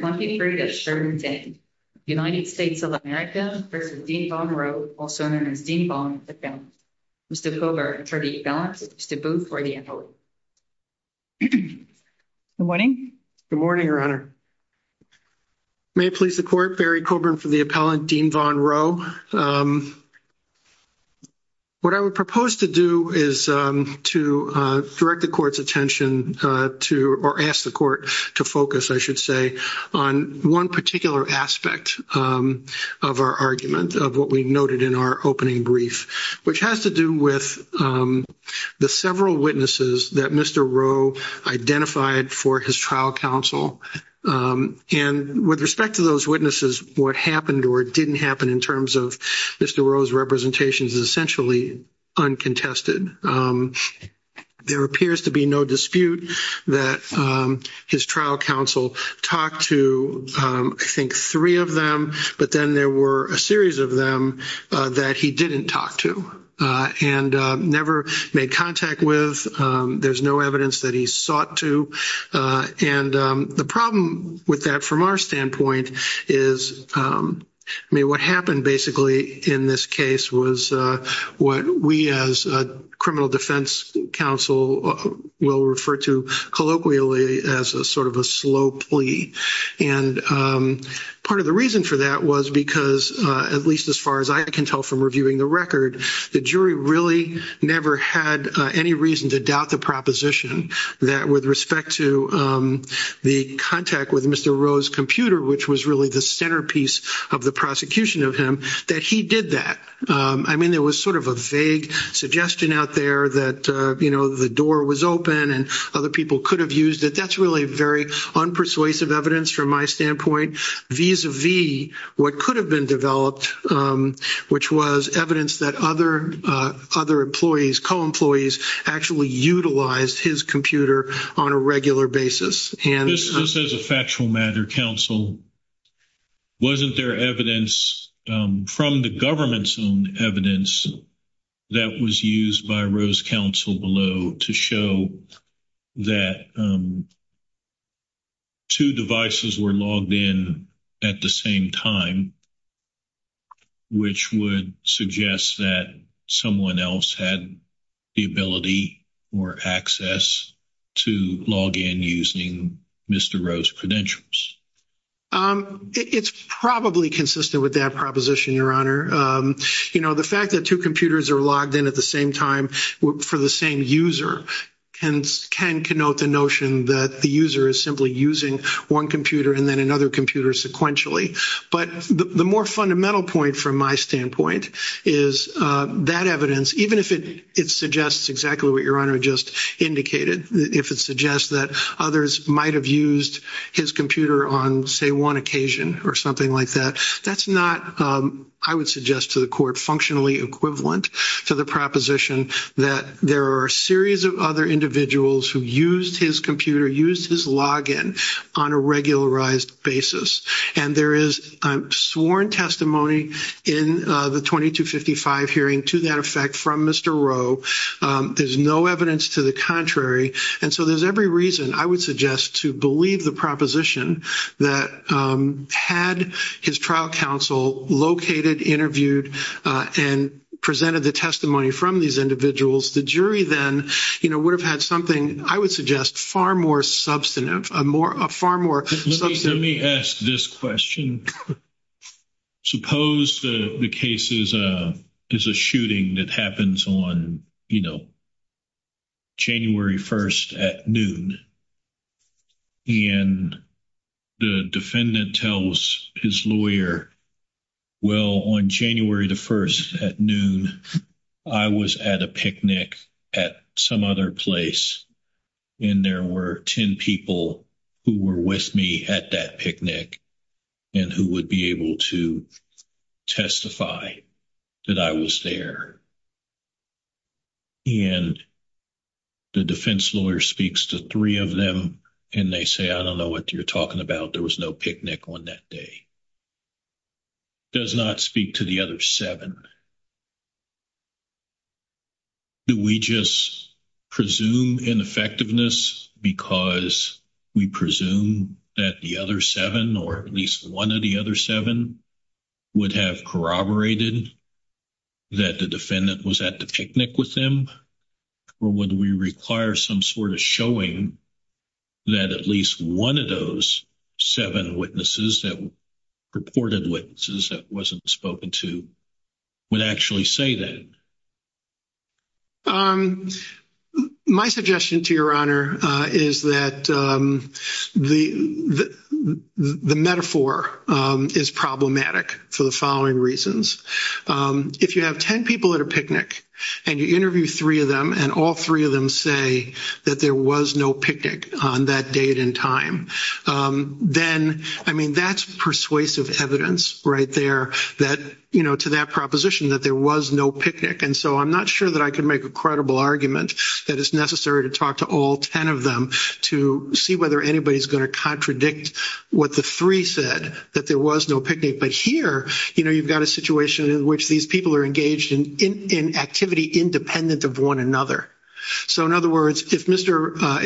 Mr. Coburn for the appellant, Mr. Booth for the appellant. Good morning. Good morning, Your Honor. May it please the Court, Barry Coburn for the appellant, Deenvaughn Rowe. What I would propose to do is to direct the Court's attention to, or ask the Court to focus, I should say, on one particular aspect of our argument, of what we noted in our opening brief, which has to do with the several witnesses that Mr. Rowe identified for his trial counsel. And with respect to those witnesses, what happened or didn't happen in terms of Mr. Rowe's representations is essentially uncontested. There appears to be no dispute that his trial counsel talked to, I think, three of them, but then there were a series of them that he didn't talk to and never made contact with. There's no evidence that he sought to. And the problem with that from our standpoint is, I mean, what happened basically in this case was what we as a criminal defense counsel will refer to colloquially as a sort of a slow plea. And part of the reason for that was because, at least as far as I can tell from reviewing the record, the jury really never had any reason to doubt the proposition that with respect to the contact with Mr. Rowe's computer, which was really the centerpiece of the prosecution of him, that he did that. I mean, there was sort of a vague suggestion out there that, you know, the door was open and other people could have used it. That's really very unpersuasive evidence from my standpoint. Vis-a-vis what could have been developed, which was evidence that other employees, co-employees actually utilized his computer on a regular basis. Just as a factual matter, counsel, wasn't there evidence from the government's own evidence that was used by Rowe's counsel below to show that two devices were logged in at the same time, which would suggest that someone else had the ability or access to log in using Mr. Rowe's credentials? It's probably consistent with that proposition, Your Honor. You know, the fact that two computers are logged in at the same time for the same user can connote the notion that the user is simply using one computer and then another computer sequentially. But the more fundamental point from my standpoint is that evidence, even if it suggests exactly what Your Honor just indicated, if it suggests that others might have used his computer on, say, one occasion or something like that, that's not, I would suggest to the court, functionally equivalent to the proposition that there are a series of other individuals who used his computer, used his login on a regularized basis. And there is sworn testimony in the 2255 hearing to that effect from Mr. Rowe. There's no evidence to the contrary. And so there's every reason, I would suggest, to believe the proposition that had his trial counsel located, interviewed, and presented the testimony from these individuals, the jury then would have had something, I would suggest, far more substantive. Let me ask this question. Suppose the case is a shooting that happens on, you know, January 1st at noon. And the defendant tells his lawyer, well, on January the 1st at noon, I was at a picnic at some other place, and there were 10 people who were with me at that picnic and who would be able to testify that I was there. And the defense lawyer speaks to three of them and they say, I don't know what you're talking about, there was no picnic on that day. Does not speak to the other seven. Do we just presume ineffectiveness because we presume that the other seven or at least one of the other seven would have corroborated that the defendant was at the picnic with them? Or would we require some sort of showing that at least one of those seven witnesses that reported witnesses that wasn't spoken to would actually say that? My suggestion to your honor is that the metaphor is problematic for the following reasons. If you have 10 people at a picnic and you interview three of them and all three of them say that there was no picnic on that date and time, then, I mean, that's persuasive evidence right there that, you know, to that proposition that there was no picnic. And so I'm not sure that I can make a credible argument that it's necessary to talk to all 10 of them to see whether anybody's going to contradict what the three said, that there was no picnic. But here, you know, you've got a situation in which these people are engaged in activity independent of one another. So, in other words, if Mr. —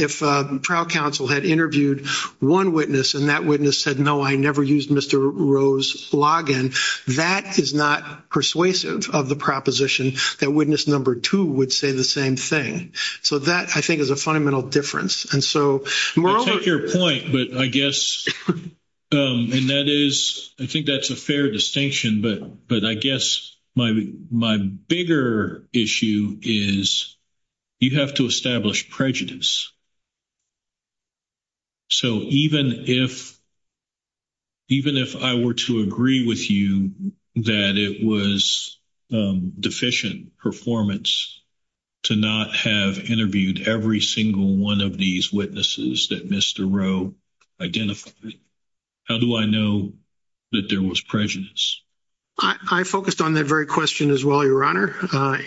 if trial counsel had interviewed one witness and that witness said, no, I never used Mr. Rowe's login, that is not persuasive of the proposition that witness number two would say the same thing. So that, I think, is a fundamental difference. I take your point, but I guess — and that is — I think that's a fair distinction, but I guess my bigger issue is you have to establish prejudice. So even if I were to agree with you that it was deficient performance to not have interviewed every single one of these witnesses that Mr. Rowe identified, how do I know that there was prejudice? I focused on that very question as well, Your Honor.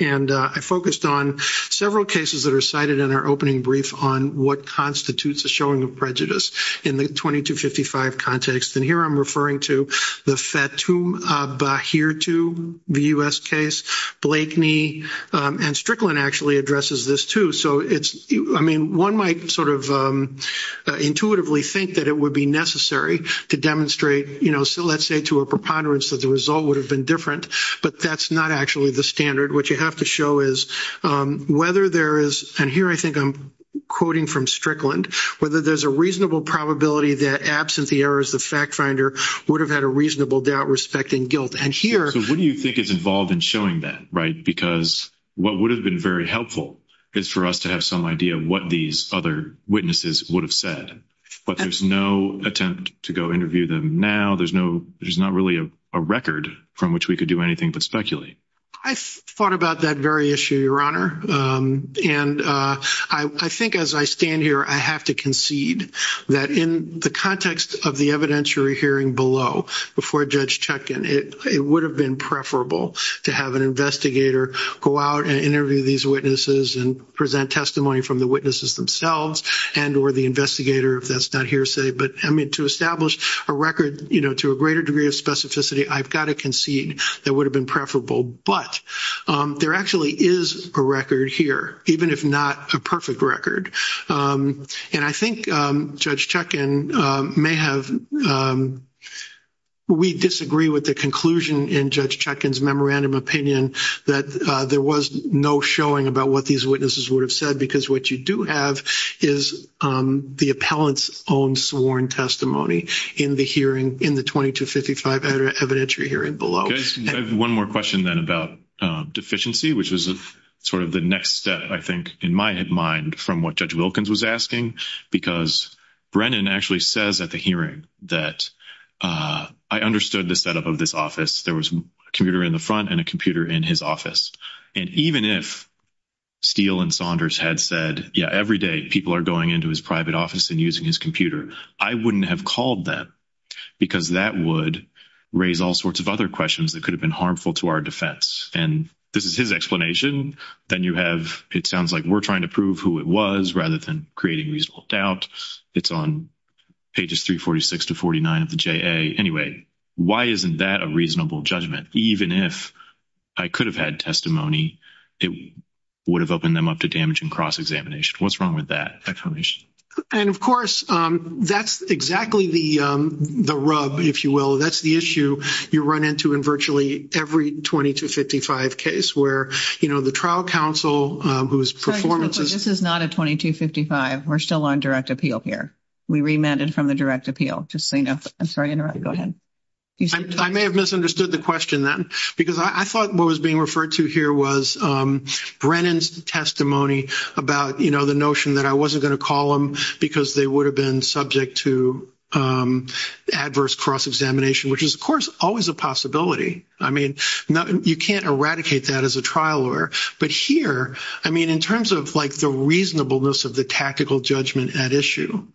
And I focused on several cases that are cited in our opening brief on what constitutes a showing of prejudice in the 2255 context. And here I'm referring to the Fatum Bahirtu, the U.S. case. Blakeney and Strickland actually addresses this, too. I mean, one might sort of intuitively think that it would be necessary to demonstrate, you know, let's say to a preponderance that the result would have been different, but that's not actually the standard. What you have to show is whether there is — and here I think I'm quoting from Strickland — whether there's a reasonable probability that, absent the errors of FactFinder, would have had a reasonable doubt, respect, and guilt. So what do you think is involved in showing that, right? Because what would have been very helpful is for us to have some idea of what these other witnesses would have said. But there's no attempt to go interview them now. There's not really a record from which we could do anything but speculate. I thought about that very issue, Your Honor. And I think as I stand here, I have to concede that in the context of the evidentiary hearing below, before Judge Chetkin, it would have been preferable to have an investigator go out and interview these witnesses and present testimony from the witnesses themselves and or the investigator, if that's not hearsay. But, I mean, to establish a record, you know, to a greater degree of specificity, I've got to concede that would have been preferable. But there actually is a record here, even if not a perfect record. And I think Judge Chetkin may have — we disagree with the conclusion in Judge Chetkin's memorandum opinion that there was no showing about what these witnesses would have said because what you do have is the appellant's own sworn testimony in the hearing, in the 2255 evidentiary hearing below. I have one more question then about deficiency, which was sort of the next step, I think, in my mind from what Judge Wilkins was asking. Because Brennan actually says at the hearing that I understood the setup of this office. There was a computer in the front and a computer in his office. And even if Steele and Saunders had said, yeah, every day people are going into his private office and using his computer, I wouldn't have called them because that would raise all sorts of other questions that could have been harmful to our defense. And this is his explanation. Then you have, it sounds like we're trying to prove who it was rather than creating reasonable doubt. It's on pages 346 to 49 of the JA. Anyway, why isn't that a reasonable judgment? Even if I could have had testimony, it would have opened them up to damage and cross-examination. What's wrong with that explanation? And, of course, that's exactly the rub, if you will. That's the issue you run into in virtually every 2255 case where, you know, the trial counsel whose performance is – This is not a 2255. We're still on direct appeal here. We remanded from the direct appeal. I'm sorry to interrupt. Go ahead. I may have misunderstood the question then because I thought what was being referred to here was Brennan's testimony about, you know, the notion that I wasn't going to call them because they would have been subject to adverse cross-examination, which is, of course, always a possibility. I mean, you can't eradicate that as a trial lawyer. But here, I mean, in terms of, like, the reasonableness of the tactical judgment at issue,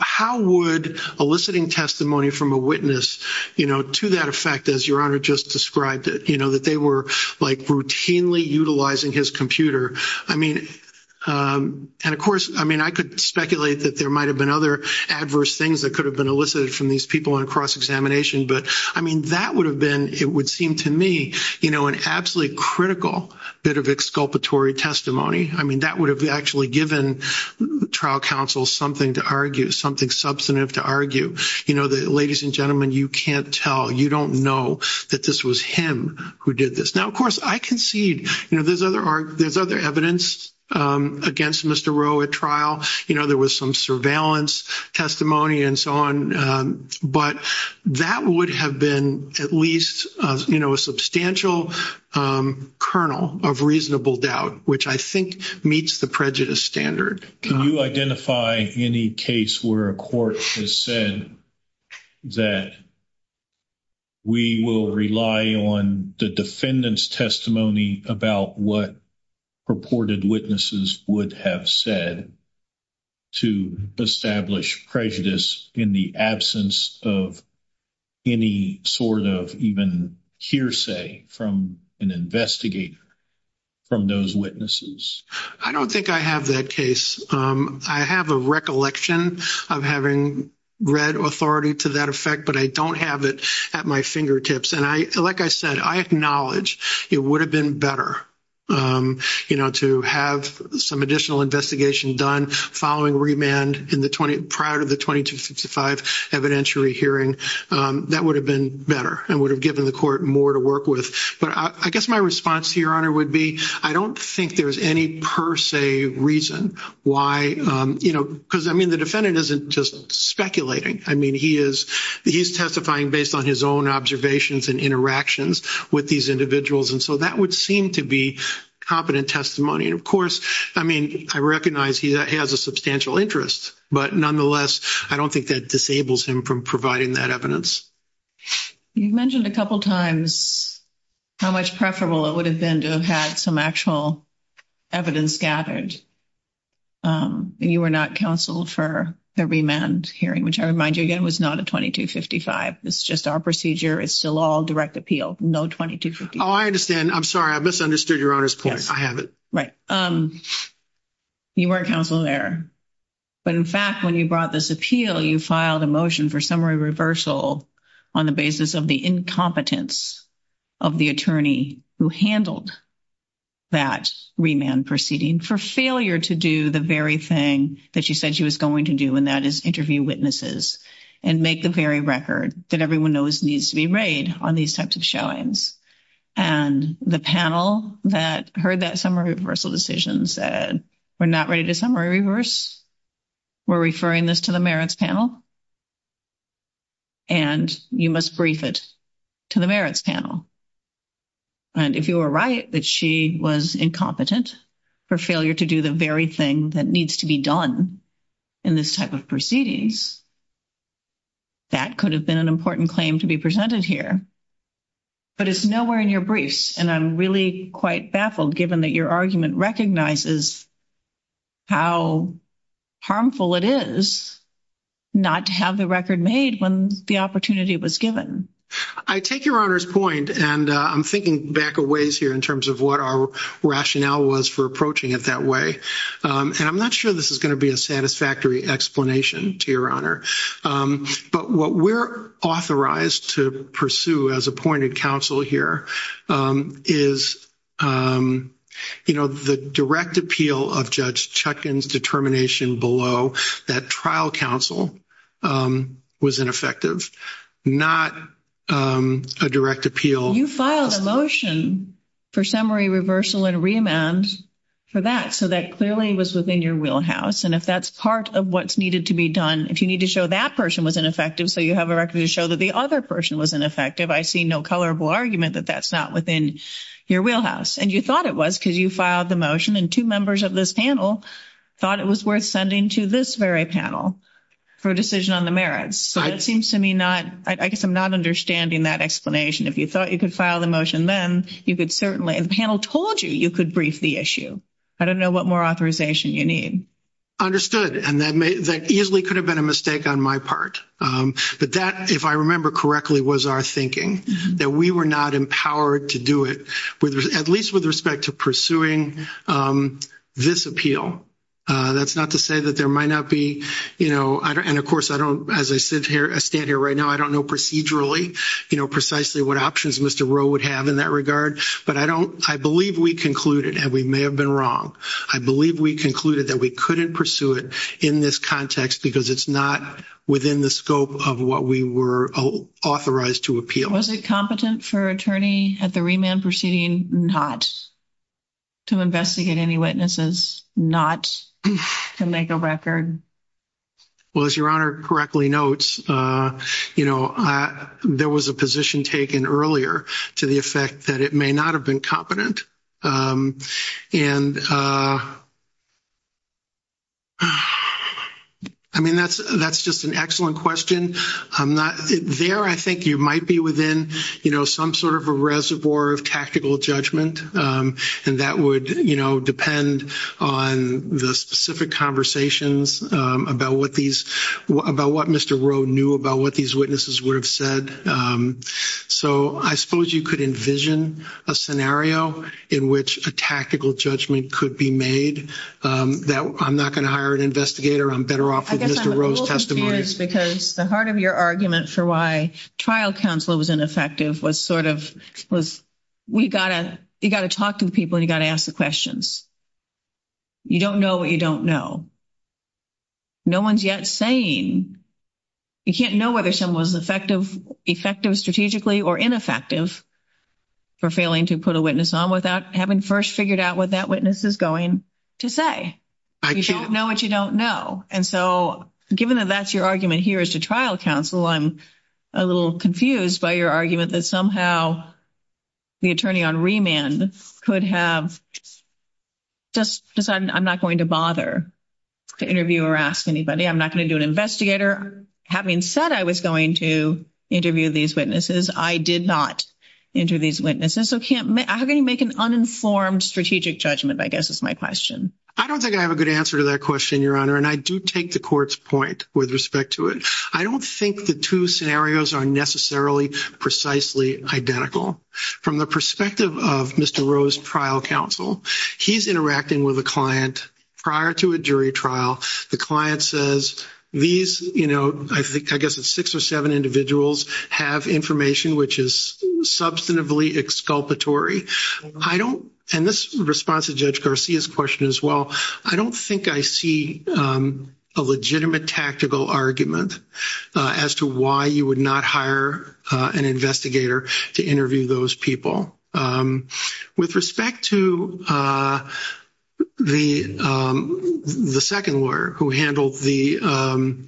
how would eliciting testimony from a witness, you know, to that effect, as Your Honor just described it, you know, that they were, like, routinely utilizing his computer, I mean – and, of course, I mean, I could speculate that there might have been other adverse things that could have been elicited from these people on cross-examination. But, I mean, that would have been, it would seem to me, you know, an absolutely critical bit of exculpatory testimony. I mean, that would have actually given trial counsel something to argue, something substantive to argue. You know, ladies and gentlemen, you can't tell. You don't know that this was him who did this. Now, of course, I concede, you know, there's other evidence against Mr. Rowe at trial. You know, there was some surveillance testimony and so on. But that would have been at least, you know, a substantial kernel of reasonable doubt, which I think meets the prejudice standard. Can you identify any case where a court has said that we will rely on the defendant's testimony about what purported witnesses would have said to establish prejudice in the absence of any sort of even hearsay from an investigator from those witnesses? I don't think I have that case. I have a recollection of having read authority to that effect, but I don't have it at my fingertips. And like I said, I acknowledge it would have been better, you know, to have some additional investigation done following remand prior to the 2255 evidentiary hearing. That would have been better and would have given the court more to work with. But I guess my response to Your Honor would be I don't think there's any per se reason why, you know, because, I mean, the defendant isn't just speculating. I mean, he is testifying based on his own observations and interactions with these individuals, and so that would seem to be competent testimony. And, of course, I mean, I recognize he has a substantial interest, but nonetheless I don't think that disables him from providing that evidence. You mentioned a couple times how much preferable it would have been to have had some actual evidence gathered, and you were not counsel for the remand hearing, which I remind you again was not a 2255. This is just our procedure. It's still all direct appeal, no 2255. Oh, I understand. I'm sorry. I misunderstood Your Honor's point. I have it. Right. You weren't counsel there. But, in fact, when you brought this appeal, you filed a motion for summary reversal on the basis of the incompetence of the attorney who handled that remand proceeding for failure to do the very thing that you said she was going to do, and that is interview witnesses and make the very record that everyone knows needs to be made on these types of showings. And the panel that heard that summary reversal decision said, we're not ready to summary reverse. We're referring this to the merits panel. And you must brief it to the merits panel. And if you were right that she was incompetent for failure to do the very thing that needs to be done in this type of proceedings, that could have been an important claim to be presented here. But it's nowhere in your briefs, and I'm really quite baffled, given that your argument recognizes how harmful it is not to have the record made when the opportunity was given. I take Your Honor's point, and I'm thinking back a ways here in terms of what our rationale was for approaching it that way. And I'm not sure this is going to be a satisfactory explanation to Your Honor. But what we're authorized to pursue as appointed counsel here is, you know, the direct appeal of Judge Chutkan's determination below that trial counsel was ineffective, not a direct appeal. You filed a motion for summary reversal and remand for that, so that clearly was within your wheelhouse. And if that's part of what's needed to be done, if you need to show that person was ineffective so you have a record to show that the other person was ineffective, I see no colorable argument that that's not within your wheelhouse. And you thought it was because you filed the motion, and two members of this panel thought it was worth sending to this very panel for a decision on the merits. So that seems to me not – I guess I'm not understanding that explanation. If you thought you could file the motion then, you could certainly – and the panel told you you could brief the issue. I don't know what more authorization you need. And that easily could have been a mistake on my part. But that, if I remember correctly, was our thinking, that we were not empowered to do it, at least with respect to pursuing this appeal. That's not to say that there might not be – and, of course, I don't – as I stand here right now, I don't know procedurally, you know, precisely what options Mr. Rowe would have in that regard. But I don't – I believe we concluded, and we may have been wrong, I believe we concluded that we couldn't pursue it in this context because it's not within the scope of what we were authorized to appeal. Was it competent for an attorney at the remand proceeding not to investigate any witnesses, not to make a record? Well, as Your Honor correctly notes, you know, there was a position taken earlier to the effect that it may not have been competent. And, I mean, that's just an excellent question. There I think you might be within, you know, some sort of a reservoir of tactical judgment, and that would, you know, depend on the specific conversations about what these – about what Mr. Rowe knew about what these witnesses would have said. So I suppose you could envision a scenario in which a tactical judgment could be made that I'm not going to hire an investigator, I'm better off with Mr. Rowe's testimony. I guess I'm a little confused because the heart of your argument for why trial counsel was ineffective was sort of – was we got to – you got to talk to the people and you got to ask the questions. You don't know what you don't know. No one's yet saying – you can't know whether someone was effective strategically or ineffective for failing to put a witness on without having first figured out what that witness is going to say. You don't know what you don't know. And so given that that's your argument here as to trial counsel, I'm a little confused by your argument that somehow the attorney on remand could have just decided I'm not going to bother to interview or ask anybody. I'm not going to do an investigator. Having said I was going to interview these witnesses, I did not interview these witnesses. So how can you make an uninformed strategic judgment, I guess, is my question. I don't think I have a good answer to that question, Your Honor, and I do take the court's point with respect to it. I don't think the two scenarios are necessarily precisely identical. From the perspective of Mr. Rowe's trial counsel, he's interacting with a client prior to a jury trial. The client says, I guess it's six or seven individuals have information which is substantively exculpatory. And this responds to Judge Garcia's question as well. I don't think I see a legitimate tactical argument as to why you would not hire an investigator to interview those people. With respect to the second lawyer who handled the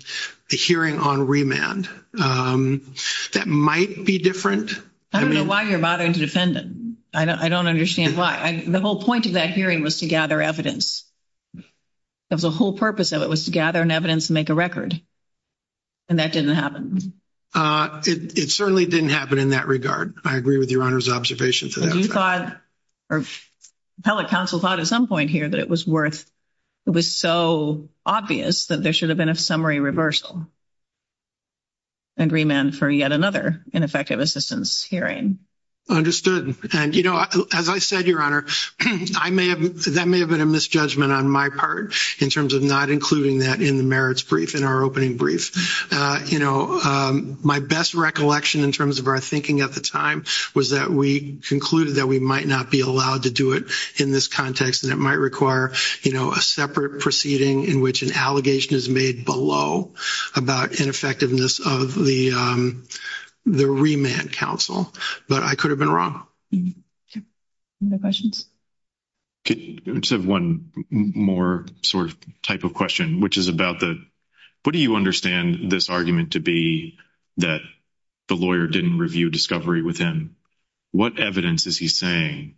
hearing on remand, that might be different. I don't know why you're bothering to defend him. I don't understand why. The whole point of that hearing was to gather evidence. The whole purpose of it was to gather evidence and make a record, and that didn't happen. It certainly didn't happen in that regard. I agree with Your Honor's observation to that. Do you thought, or appellate counsel thought at some point here that it was worth, it was so obvious that there should have been a summary reversal agreement for yet another ineffective assistance hearing? And, you know, as I said, Your Honor, that may have been a misjudgment on my part in terms of not including that in the merits brief, in our opening brief. You know, my best recollection in terms of our thinking at the time was that we concluded that we might not be allowed to do it in this context, and it might require, you know, a separate proceeding in which an allegation is made below about ineffectiveness of the remand counsel. But I could have been wrong. No questions? I just have one more sort of type of question, which is about the, what do you understand this argument to be that the lawyer didn't review discovery with him? What evidence is he saying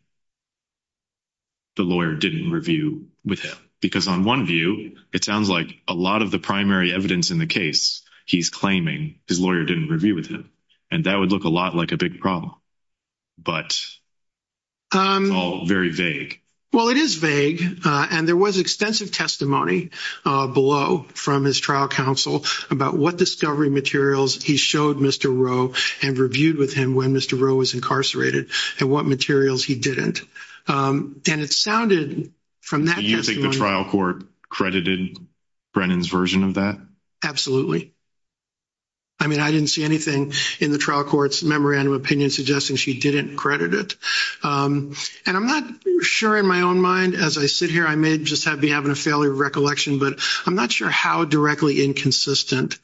the lawyer didn't review with him? Because on one view, it sounds like a lot of the primary evidence in the case, he's claiming his lawyer didn't review with him, and that would look a lot like a big problem. But it's all very vague. Well, it is vague, and there was extensive testimony below from his trial counsel about what discovery materials he showed Mr. Rowe and reviewed with him when Mr. Rowe was incarcerated and what materials he didn't. And it sounded from that testimony. Do you think the trial court credited Brennan's version of that? Absolutely. I mean, I didn't see anything in the trial court's memorandum of opinion suggesting she didn't credit it. And I'm not sure in my own mind, as I sit here, I may just be having a failure of recollection, but I'm not sure how directly inconsistent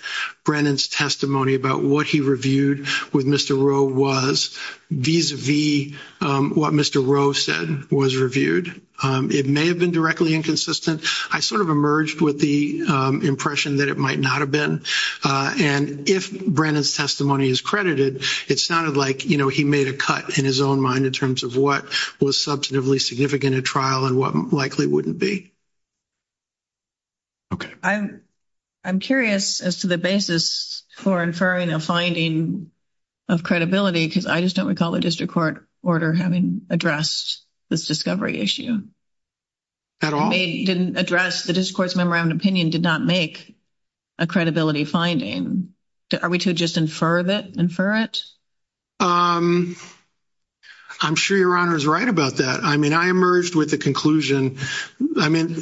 Brennan's testimony about what he reviewed with Mr. Rowe was, vis-à-vis what Mr. Rowe said was reviewed. It may have been directly inconsistent. I sort of emerged with the impression that it might not have been. And if Brennan's testimony is credited, it sounded like, you know, he made a cut in his own mind in terms of what was substantively significant in trial and what likely wouldn't be. Okay. I'm curious as to the basis for inferring a finding of credibility, because I just don't recall the district court order having addressed this discovery issue. At all? It didn't address the district court's memorandum of opinion did not make a credibility finding. Are we to just infer that? Infer it? I'm sure Your Honor is right about that. I mean, I emerged with the conclusion. I mean,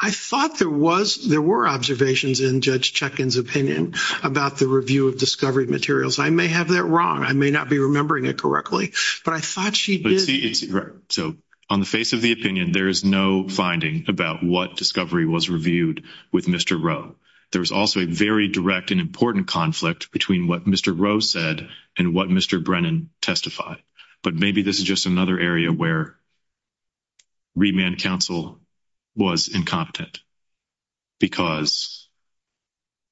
I thought there were observations in Judge Chetkin's opinion about the review of discovery materials. I may have that wrong. I may not be remembering it correctly. But I thought she did. So on the face of the opinion, there is no finding about what discovery was reviewed with Mr. Rowe. There was also a very direct and important conflict between what Mr. Rowe said and what Mr. Brennan testified. But maybe this is just another area where remand counsel was incompetent, because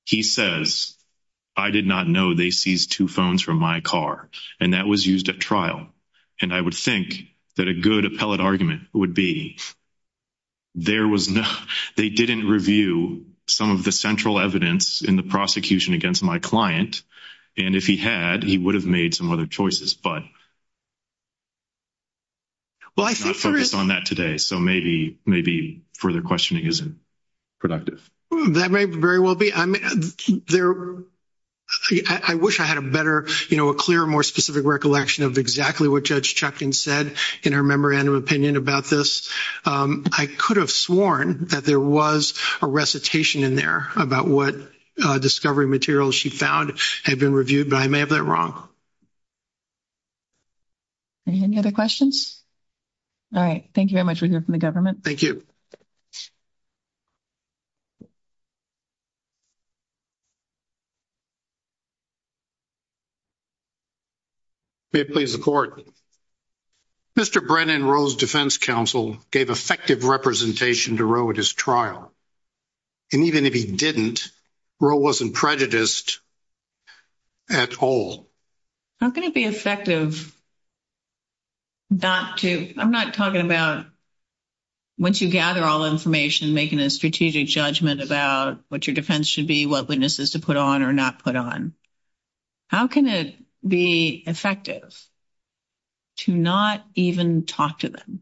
he says, I did not know they seized two phones from my car, and that was used at trial. And I would think that a good appellate argument would be they didn't review some of the central evidence in the prosecution against my client. And if he had, he would have made some other choices. But let's not focus on that today. So maybe further questioning isn't productive. That may very well be. I wish I had a better, you know, a clearer, more specific recollection of exactly what Judge Chetkin said in her memorandum opinion about this. I could have sworn that there was a recitation in there about what discovery materials she found had been reviewed. But I may have that wrong. Any other questions? All right. Thank you very much. We hear from the government. Thank you. May it please the Court. Mr. Brennan, Roe's defense counsel gave effective representation to Roe at his trial. And even if he didn't, Roe wasn't prejudiced at all. How can it be effective not to? I'm not talking about once you gather all the information, making a strategic judgment about what your defense should be, what witnesses to put on or not put on. How can it be effective to not even talk to them?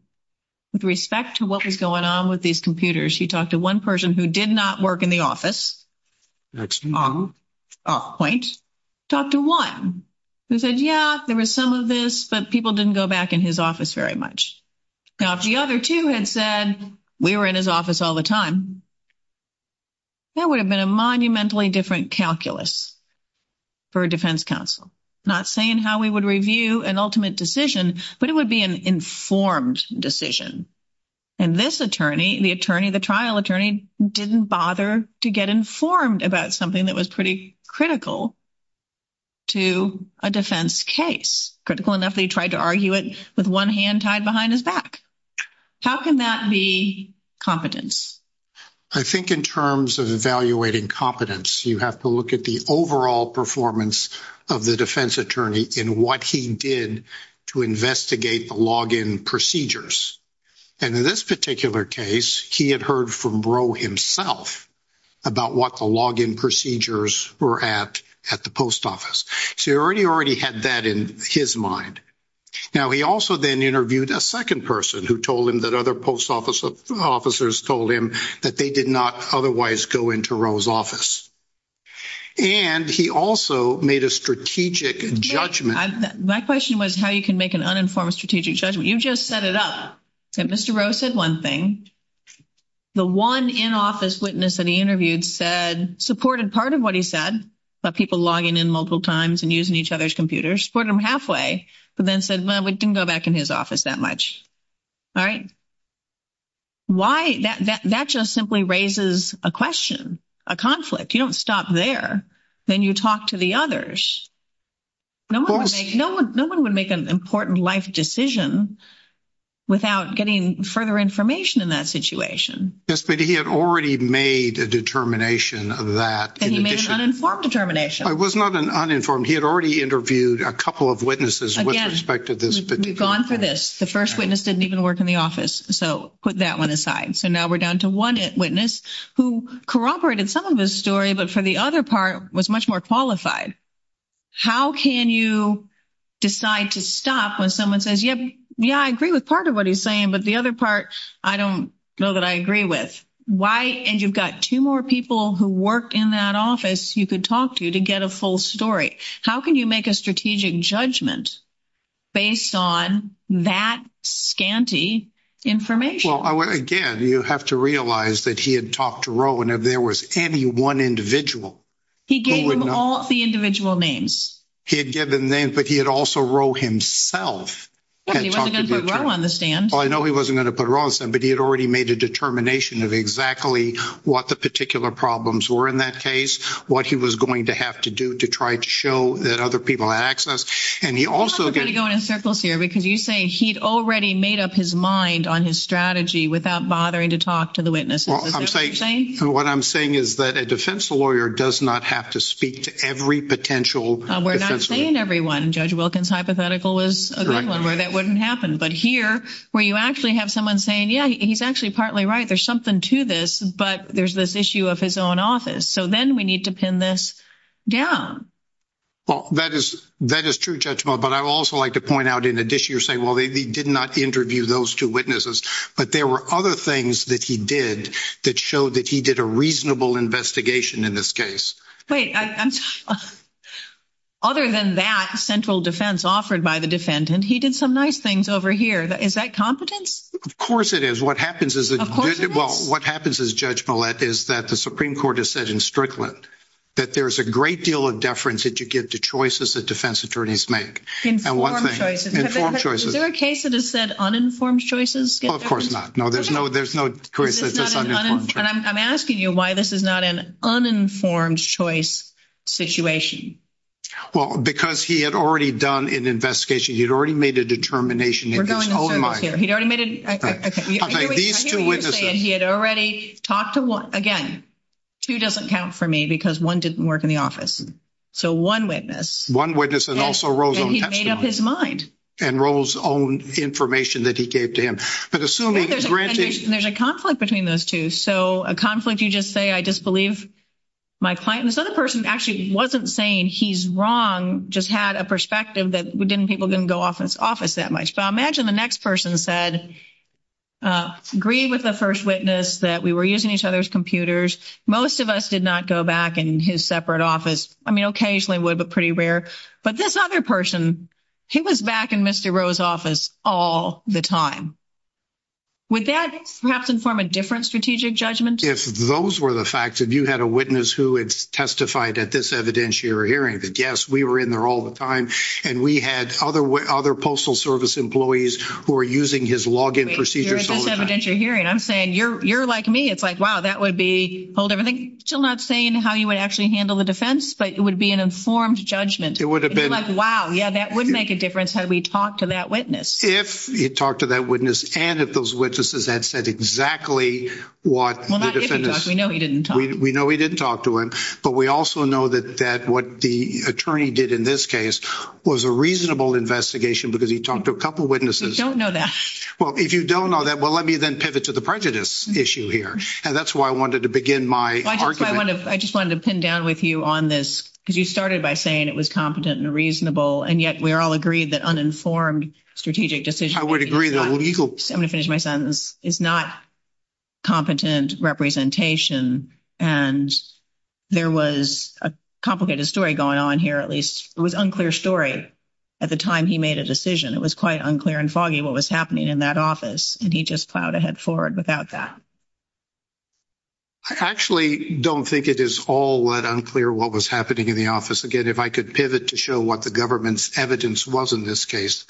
With respect to what was going on with these computers, he talked to one person who did not work in the office. Off point. He talked to one who said, yeah, there was some of this, but people didn't go back in his office very much. Now, if the other two had said, we were in his office all the time, that would have been a monumentally different calculus for a defense counsel. Not saying how we would review an ultimate decision, but it would be an informed decision. And this attorney, the attorney, the trial attorney, didn't bother to get informed about something that was pretty critical to a defense case. Critical enough that he tried to argue it with one hand tied behind his back. How can that be competence? I think in terms of evaluating competence, you have to look at the overall performance of the defense attorney in what he did to investigate the login procedures. And in this particular case, he had heard from Roe himself about what the login procedures were at at the post office. So he already had that in his mind. Now, he also then interviewed a second person who told him that other post officers told him that they did not otherwise go into Roe's office. And he also made a strategic judgment. My question was how you can make an uninformed strategic judgment. You just set it up that Mr. Roe said one thing. The one in-office witness that he interviewed said supported part of what he said about people logging in multiple times and using each other's computers. Supported them halfway, but then said, well, we didn't go back in his office that much. All right. Why? That just simply raises a question, a conflict. You don't stop there. Then you talk to the others. No one would make an important life decision without getting further information in that situation. Yes, but he had already made a determination of that. And he made an uninformed determination. It was not an uninformed. He had already interviewed a couple of witnesses with respect to this particular point. Again, we've gone through this. The first witness didn't even work in the office, so put that one aside. So now we're down to one witness who corroborated some of his story, but for the other part was much more qualified. How can you decide to stop when someone says, yep, yeah, I agree with part of what he's saying, but the other part I don't know that I agree with? Why? And you've got two more people who work in that office you could talk to to get a full story. How can you make a strategic judgment based on that scanty information? Well, again, you have to realize that he had talked to Roe, and if there was any one individual. He gave him all the individual names. He had given names, but he had also Roe himself. He wasn't going to put Roe on the stand. Well, I know he wasn't going to put Roe on the stand, but he had already made a determination of exactly what the particular problems were in that case, what he was going to have to do to try to show that other people had access. We're going to go in circles here because you say he'd already made up his mind on his strategy without bothering to talk to the witnesses. What I'm saying is that a defense lawyer does not have to speak to every potential defense lawyer. We're not saying everyone. Judge Wilkins' hypothetical was a good one where that wouldn't happen. But here where you actually have someone saying, yeah, he's actually partly right, there's something to this, but there's this issue of his own office. So then we need to pin this down. Well, that is true, Judge Millett, but I would also like to point out in addition, you're saying, well, they did not interview those two witnesses, but there were other things that he did that showed that he did a reasonable investigation in this case. Wait, other than that central defense offered by the defendant, he did some nice things over here. Is that competence? Of course it is. Well, what happens is, Judge Millett, is that the Supreme Court has said in Strickland that there is a great deal of deference that you give to choices that defense attorneys make. Informed choices. Informed choices. Is there a case that has said uninformed choices? Well, of course not. No, there's no case that says uninformed choices. I'm asking you why this is not an uninformed choice situation. Well, because he had already done an investigation. He had already made a determination in his own mind. I hear you say he had already talked to one. Again, two doesn't count for me because one didn't work in the office. So, one witness. One witness and also Roe's own testimony. And he made up his mind. And Roe's own information that he gave to him. But assuming, granted. There's a conflict between those two. So, a conflict, you just say, I disbelieve my client. This other person actually wasn't saying he's wrong, just had a perspective that people didn't go office that much. But I imagine the next person said, agreed with the first witness that we were using each other's computers. Most of us did not go back in his separate office. I mean, occasionally would, but pretty rare. But this other person, he was back in Mr. Roe's office all the time. Would that perhaps inform a different strategic judgment? If those were the facts. If you had a witness who had testified at this evidentiary hearing. Yes, we were in there all the time. And we had other postal service employees who were using his login procedures all the time. Wait, you're at this evidentiary hearing. I'm saying, you're like me. It's like, wow, that would be, hold everything. Still not saying how you would actually handle the defense, but it would be an informed judgment. It would have been. You're like, wow, yeah, that would make a difference had we talked to that witness. If he talked to that witness and if those witnesses had said exactly what the defense. Well, not if he talked. We know he didn't talk. We know he didn't talk to him. But we also know that what the attorney did in this case was a reasonable investigation because he talked to a couple witnesses. Don't know that. Well, if you don't know that, well, let me then pivot to the prejudice issue here. And that's why I wanted to begin my argument. I just wanted to pin down with you on this because you started by saying it was competent and reasonable. And yet we all agreed that uninformed strategic decision. I would agree. I'm going to finish my sentence. It's not competent representation. And there was a complicated story going on here, at least. It was unclear story at the time he made a decision. It was quite unclear and foggy what was happening in that office. And he just plowed ahead forward without that. I actually don't think it is all that unclear what was happening in the office. Again, if I could pivot to show what the government's evidence was in this case.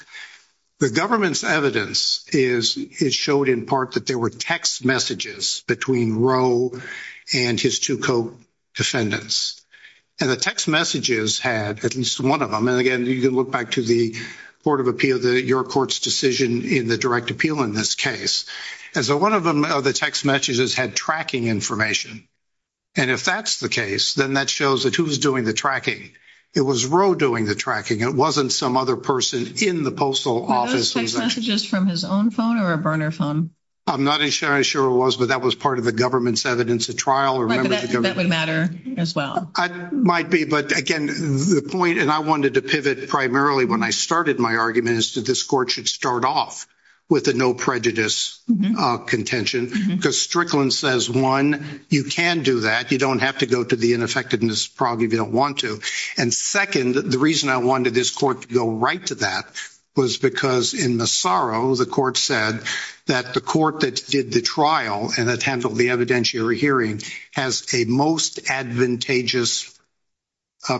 The government's evidence is it showed in part that there were text messages between Roe and his two co-defendants. And the text messages had at least one of them. And, again, you can look back to the Board of Appeal, your court's decision in the direct appeal in this case. And so one of the text messages had tracking information. And if that's the case, then that shows that who's doing the tracking. It was Roe doing the tracking. It wasn't some other person in the postal office. Were those text messages from his own phone or a burner phone? I'm not sure it was, but that was part of the government's evidence at trial. Right, but that would matter as well. It might be. But, again, the point, and I wanted to pivot primarily when I started my argument, is that this court should start off with a no prejudice contention. Because Strickland says, one, you can do that. You don't have to go to the ineffectiveness problem if you don't want to. And, second, the reason I wanted this court to go right to that was because in Massaro, the court said that the court that did the trial and that handled the evidentiary hearing has a most advantageous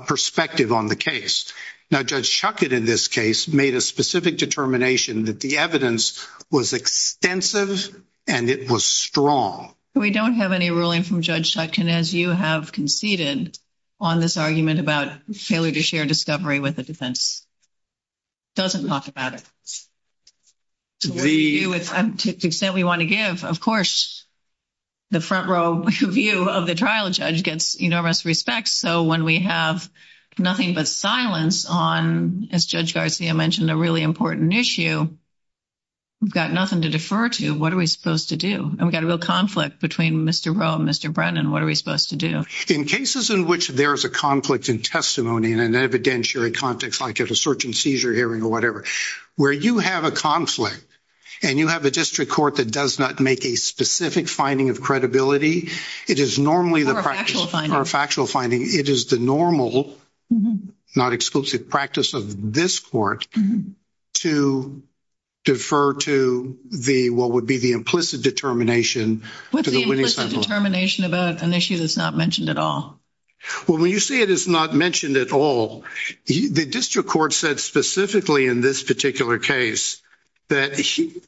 perspective on the case. Now, Judge Schuchat in this case made a specific determination that the evidence was extensive and it was strong. We don't have any ruling from Judge Schuchat, as you have conceded, on this argument about failure to share discovery with the defense. It doesn't talk about it. To the extent we want to give, of course, the front row view of the trial judge gets enormous respect. So when we have nothing but silence on, as Judge Garcia mentioned, a really important issue, we've got nothing to defer to. So what are we supposed to do? And we've got a real conflict between Mr. Rowe and Mr. Brennan. What are we supposed to do? In cases in which there is a conflict in testimony in an evidentiary context, like at a search and seizure hearing or whatever, where you have a conflict and you have a district court that does not make a specific finding of credibility, it is normally the practice of factual finding. It is the normal, not exclusive, practice of this court to defer to what would be the implicit determination. What's the implicit determination about an issue that's not mentioned at all? Well, when you say it is not mentioned at all, the district court said specifically in this particular case that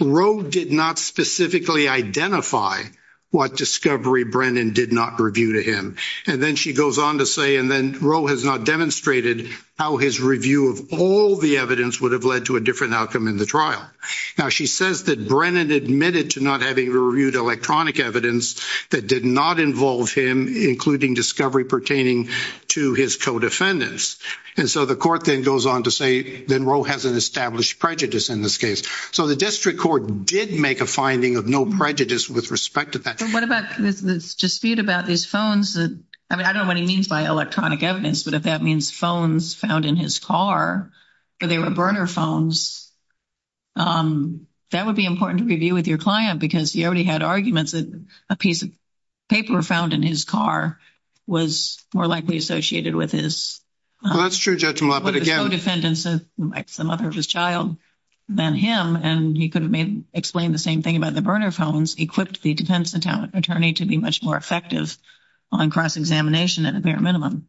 Rowe did not specifically identify what discovery Brennan did not review to him. And then she goes on to say, and then Rowe has not demonstrated how his review of all the evidence would have led to a different outcome in the trial. Now, she says that Brennan admitted to not having reviewed electronic evidence that did not involve him, including discovery pertaining to his co-defendants. And so the court then goes on to say that Rowe has an established prejudice in this case. So the district court did make a finding of no prejudice with respect to that. So what about this dispute about these phones? I mean, I don't know what he means by electronic evidence, but if that means phones found in his car, or they were burner phones, that would be important to review with your client because he already had arguments that a piece of paper found in his car was more likely associated with his co-defendants, the mother of his child, than him. And he could have explained the same thing about the burner phones, equipped the defense attorney to be much more effective on cross-examination at a bare minimum.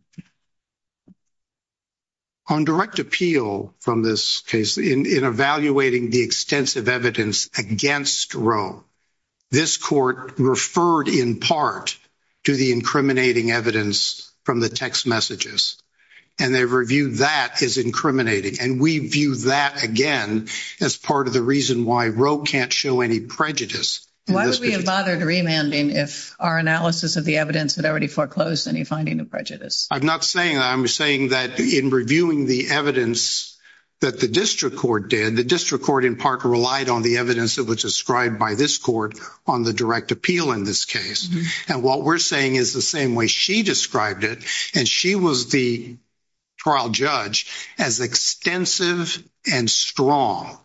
On direct appeal from this case in evaluating the extensive evidence against Rowe, this court referred in part to the incriminating evidence from the text messages. And they reviewed that as incriminating. And we view that, again, as part of the reason why Rowe can't show any prejudice. Why would we have bothered remanding if our analysis of the evidence had already foreclosed any finding of prejudice? I'm not saying that. I'm saying that in reviewing the evidence that the district court did, the district court in part relied on the evidence that was described by this court on the direct appeal in this case. And what we're saying is the same way she described it, and she was the trial judge, as extensive and strong.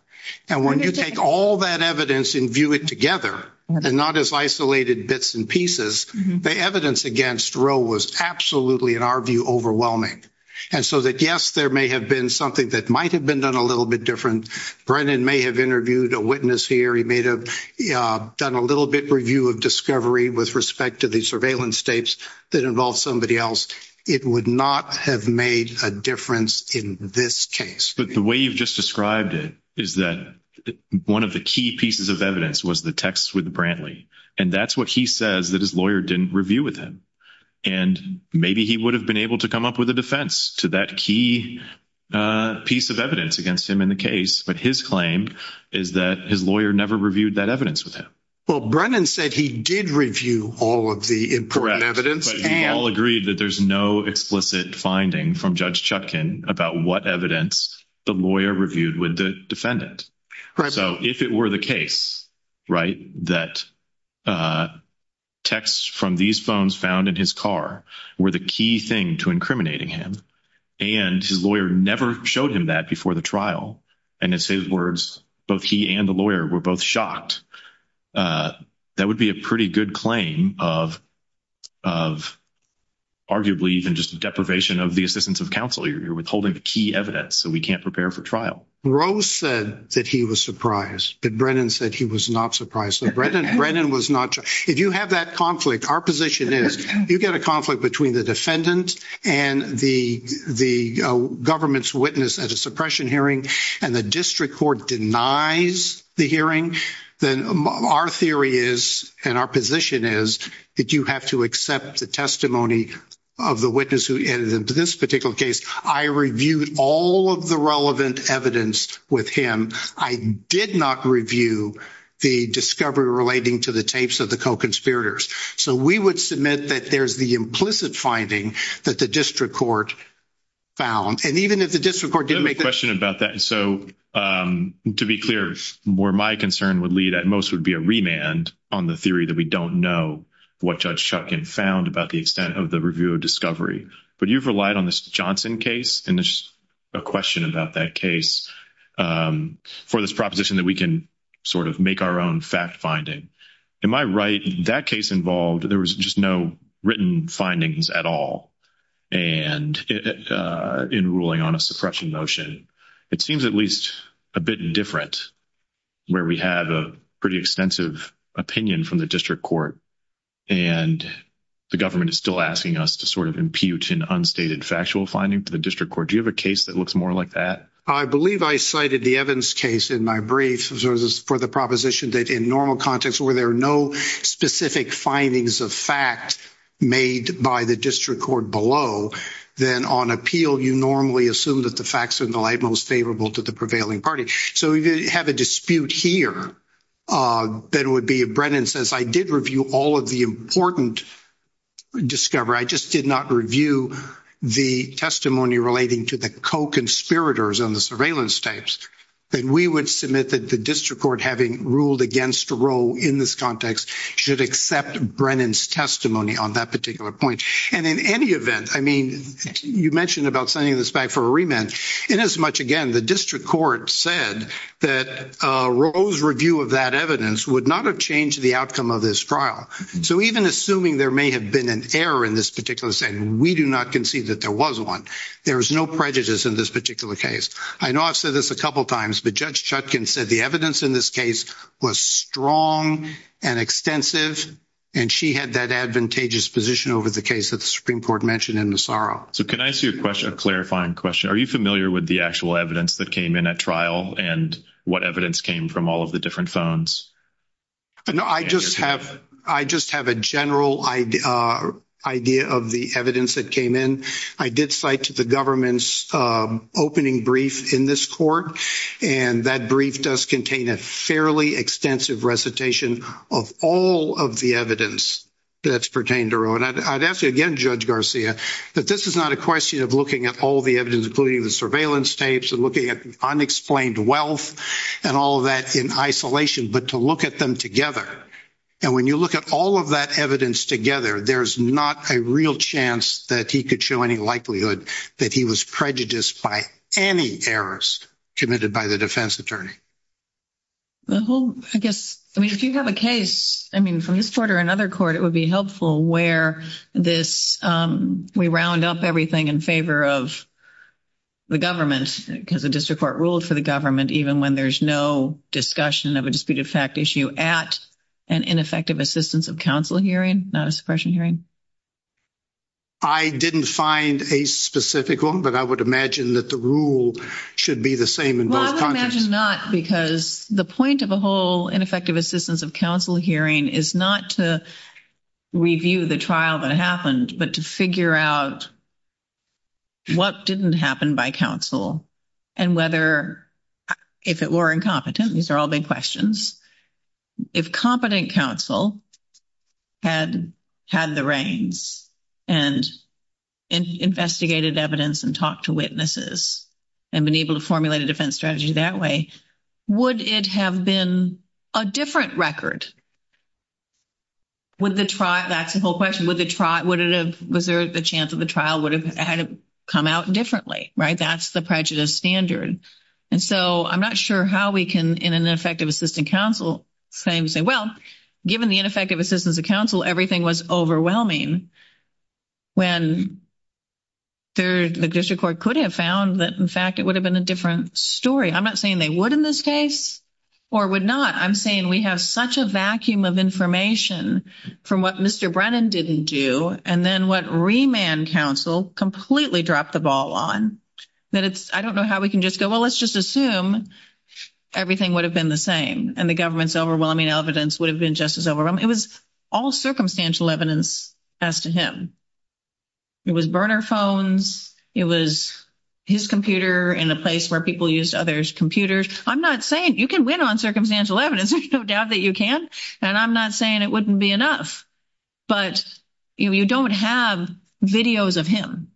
And when you take all that evidence and view it together and not as isolated bits and pieces, the evidence against Rowe was absolutely, in our view, overwhelming. And so that, yes, there may have been something that might have been done a little bit different. Brennan may have interviewed a witness here. He may have done a little bit review of discovery with respect to the surveillance tapes that involve somebody else. It would not have made a difference in this case. But the way you've just described it is that one of the key pieces of evidence was the text with Brantley. And that's what he says that his lawyer didn't review with him. And maybe he would have been able to come up with a defense to that key piece of evidence against him in the case. But his claim is that his lawyer never reviewed that evidence with him. Well, Brennan said he did review all of the evidence. And I'll agree that there's no explicit finding from Judge Chutkin about what evidence the lawyer reviewed with the defendant. So if it were the case, right, that texts from these phones found in his car were the key thing to incriminating him. And his lawyer never showed him that before the trial. And in his words, both he and the lawyer were both shocked. That would be a pretty good claim of arguably even just deprivation of the assistance of counsel. You're withholding the key evidence, so we can't prepare for trial. Rose said that he was surprised, but Brennan said he was not surprised. If you have that conflict, our position is you get a conflict between the defendant and the government's witness at a suppression hearing, and the district court denies the hearing, then our theory is, and our position is, that you have to accept the testimony of the witness who entered into this particular case. I reviewed all of the relevant evidence with him. I did not review the discovery relating to the tapes of the co-conspirators. So we would submit that there's the implicit finding that the district court found. And even if the district court didn't make the— I have a question about that. So to be clear, where my concern would lead at most would be a remand on the theory that we don't know what Judge Chutkin found about the extent of the review of discovery. But you've relied on the Johnson case, and there's a question about that case. For this proposition that we can sort of make our own fact-finding. Am I right in that case involved, there was just no written findings at all in ruling on a suppression motion? It seems at least a bit different where we have a pretty extensive opinion from the district court, and the government is still asking us to sort of impute an unstated factual finding to the district court. Do you have a case that looks more like that? I believe I cited the Evans case in my brief for the proposition that in normal context where there are no specific findings of fact made by the district court below, then on appeal you normally assume that the facts are in the light most favorable to the prevailing party. So if you have a dispute here, then it would be—Brennan says, I did review all of the important discovery. I just did not review the testimony relating to the co-conspirators on the surveillance tapes, then we would submit that the district court having ruled against Roe in this context should accept Brennan's testimony on that particular point. And in any event, I mean, you mentioned about sending this back for a remand. Inasmuch, again, the district court said that Roe's review of that evidence would not have changed the outcome of this trial. So even assuming there may have been an error in this particular setting, we do not concede that there was one. There is no prejudice in this particular case. I know I've said this a couple of times, but Judge Chutkan said the evidence in this case was strong and extensive, and she had that advantageous position over the case that the Supreme Court mentioned in Massaro. So can I ask you a question, a clarifying question? Are you familiar with the actual evidence that came in at trial and what evidence came from all of the different phones? No, I just have a general idea of the evidence that came in. I did cite the government's opening brief in this court, and that brief does contain a fairly extensive recitation of all of the evidence that's pertained to Roe. And I'd ask you again, Judge Garcia, that this is not a question of looking at all the evidence, including the surveillance tapes and looking at unexplained wealth and all of that in isolation, but to look at them together. And when you look at all of that evidence together, there's not a real chance that he could show any likelihood that he was prejudiced by any errors committed by the defense attorney. I guess, I mean, if you have a case, I mean, from this court or another court, it would be helpful where this we round up everything in favor of the government because the district court ruled for the government, even when there's no discussion of a disputed fact issue at an ineffective assistance of counsel hearing, not a suppression hearing. I didn't find a specific one, but I would imagine that the rule should be the same. Well, I would imagine not because the point of a whole ineffective assistance of counsel hearing is not to review the trial that happened, but to figure out what didn't happen by counsel and whether if it were incompetent. These are all big questions. If competent counsel had had the reins and investigated evidence and talked to witnesses and been able to formulate a defense strategy that way, would it have been a different record? Would the trial, that's the whole question, would it have, was there a chance that the trial would have had to come out differently? Right. That's the prejudice standard. And so I'm not sure how we can, in an effective assistant counsel saying, say, well, given the ineffective assistance of counsel, everything was overwhelming. When the district court could have found that, in fact, it would have been a different story. I'm not saying they would in this case or would not. I'm saying we have such a vacuum of information from what Mr. Brennan didn't do. And then what remand counsel completely dropped the ball on, that it's, I don't know how we can just go, well, let's just assume everything would have been the same. And the government's overwhelming evidence would have been just as overwhelming. It was all circumstantial evidence as to him. It was burner phones. It was his computer in a place where people used others' computers. I'm not saying, you can win on circumstantial evidence. There's no doubt that you can. And I'm not saying it wouldn't be enough. But you don't have videos of him.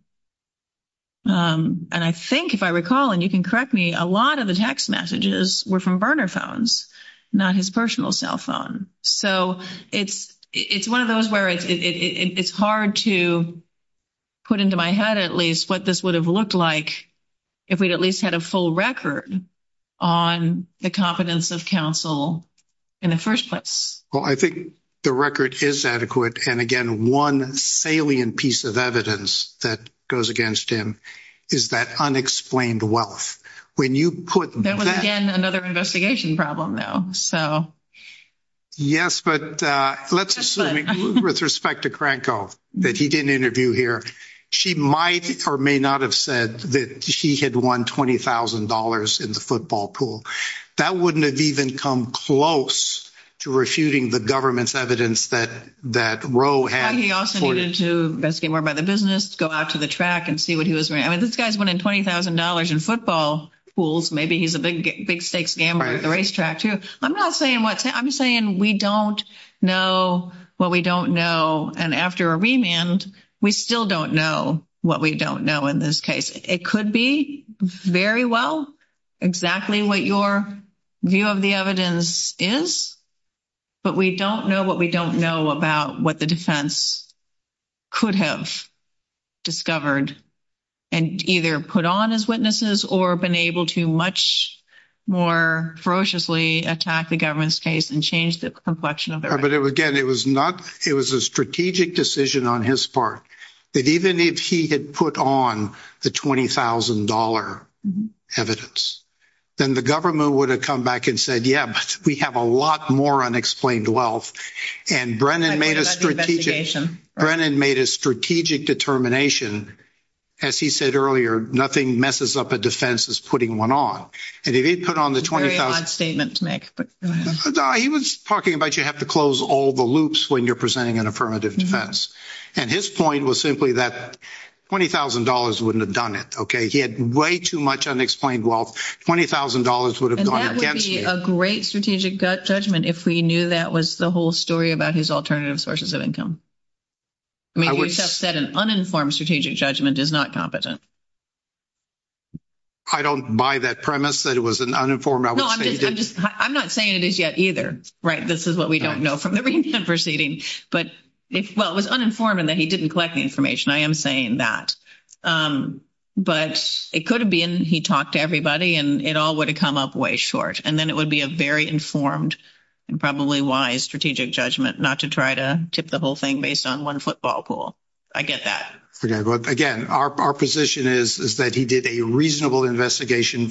And I think, if I recall, and you can correct me, a lot of the text messages were from burner phones, not his personal cell phone. So it's one of those where it's hard to put into my head at least what this would have looked like if we'd at least had a full record on the competence of counsel in the first place. Well, I think the record is adequate. And, again, one salient piece of evidence that goes against him is that unexplained wealth. That was, again, another investigation problem, though. Yes, but let's assume, with respect to Cranco, that he didn't interview here. She might or may not have said that she had won $20,000 in the football pool. That wouldn't have even come close to refuting the government's evidence that Roe had. He also needed to investigate more about the business, go out to the track and see what he was – I mean, this guy's winning $20,000 in football pools. Maybe he's a big stakes gambler at the racetrack, too. I'm not saying what – I'm saying we don't know what we don't know. And after a remand, we still don't know what we don't know in this case. It could be very well exactly what your view of the evidence is, but we don't know what we don't know about what the defense could have discovered and either put on as witnesses or been able to much more ferociously attack the government's case and change the complexion of it. But again, it was not – it was a strategic decision on his part that even if he had put on the $20,000 evidence, then the government would have come back and said, yeah, but we have a lot more unexplained wealth. And Brennan made a strategic – Brennan made a strategic determination. As he said earlier, nothing messes up a defense as putting one on. And if he put on the $20,000 – Very odd statement to make, but go ahead. No, he was talking about you have to close all the loops when you're presenting an affirmative defense. And his point was simply that $20,000 wouldn't have done it, okay? He had way too much unexplained wealth. $20,000 would have gone against him. And that would be a great strategic judgment if we knew that was the whole story about his alternative sources of income. I mean, you just said an uninformed strategic judgment is not competent. I don't buy that premise that it was an uninformed – No, I'm just – I'm not saying it is yet either, right? This is what we don't know from the recent proceeding. But if – well, it was uninformed in that he didn't collect the information. I am saying that. But it could have been he talked to everybody and it all would have come up way short. And then it would be a very informed and probably wise strategic judgment not to try to tip the whole thing based on one football pool. I get that. Again, our position is that he did a reasonable investigation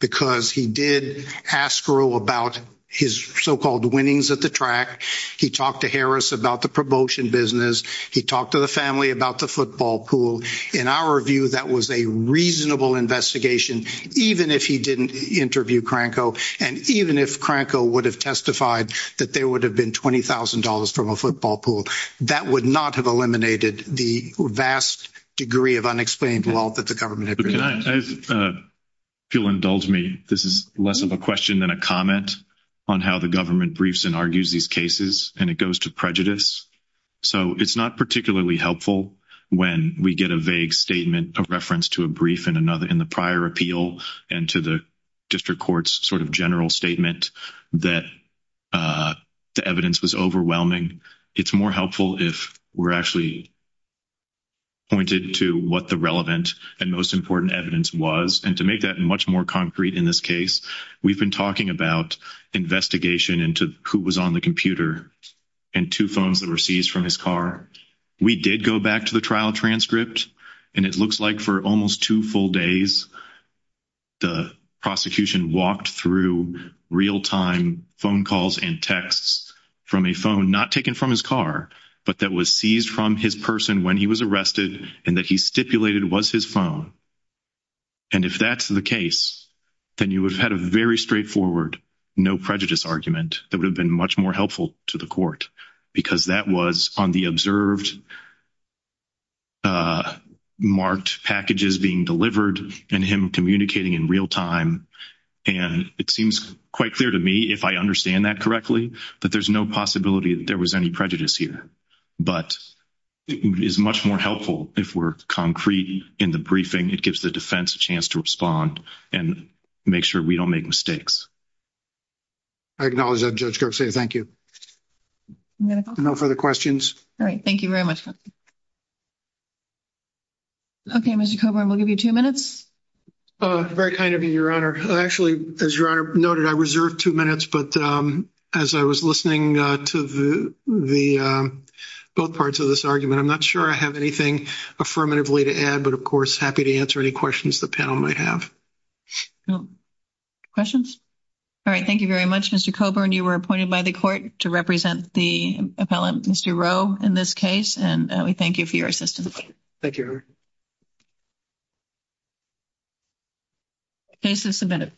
because he did ask Earl about his so-called winnings at the track. He talked to Harris about the promotion business. He talked to the family about the football pool. In our view, that was a reasonable investigation even if he didn't interview Cranco and even if Cranco would have testified that there would have been $20,000 from a football pool. That would not have eliminated the vast degree of unexplained wealth that the government had produced. If you'll indulge me, this is less of a question than a comment on how the government briefs and argues these cases, and it goes to prejudice. So it's not particularly helpful when we get a vague statement of reference to a brief in the prior appeal and to the district court's sort of general statement that the evidence was overwhelming. It's more helpful if we're actually pointed to what the relevant and most important evidence was. And to make that much more concrete in this case, we've been talking about investigation into who was on the computer and two phones that were seized from his car. We did go back to the trial transcript, and it looks like for almost two full days, the prosecution walked through real-time phone calls and texts from a phone not taken from his car but that was seized from his person when he was arrested and that he stipulated was his phone. And if that's the case, then you would have had a very straightforward no prejudice argument that would have been much more helpful to the court because that was on the observed marked packages being delivered and him communicating in real time. And it seems quite clear to me, if I understand that correctly, that there's no possibility that there was any prejudice here. But it is much more helpful if we're concrete in the briefing. It gives the defense a chance to respond and make sure we don't make mistakes. I acknowledge that, Judge Gershwin. Thank you. No further questions. All right. Thank you very much. Okay, Mr. Coburn, we'll give you two minutes. Very kind of you, Your Honor. Actually, as Your Honor noted, I reserved two minutes, but as I was listening to both parts of this argument, I'm not sure I have anything affirmatively to add, but, of course, happy to answer any questions the panel might have. Questions? All right. Thank you very much, Mr. Coburn. You were appointed by the court to represent the appellant, Mr. Rowe, in this case, and we thank you for your assistance. Thank you, Your Honor. Case is submitted.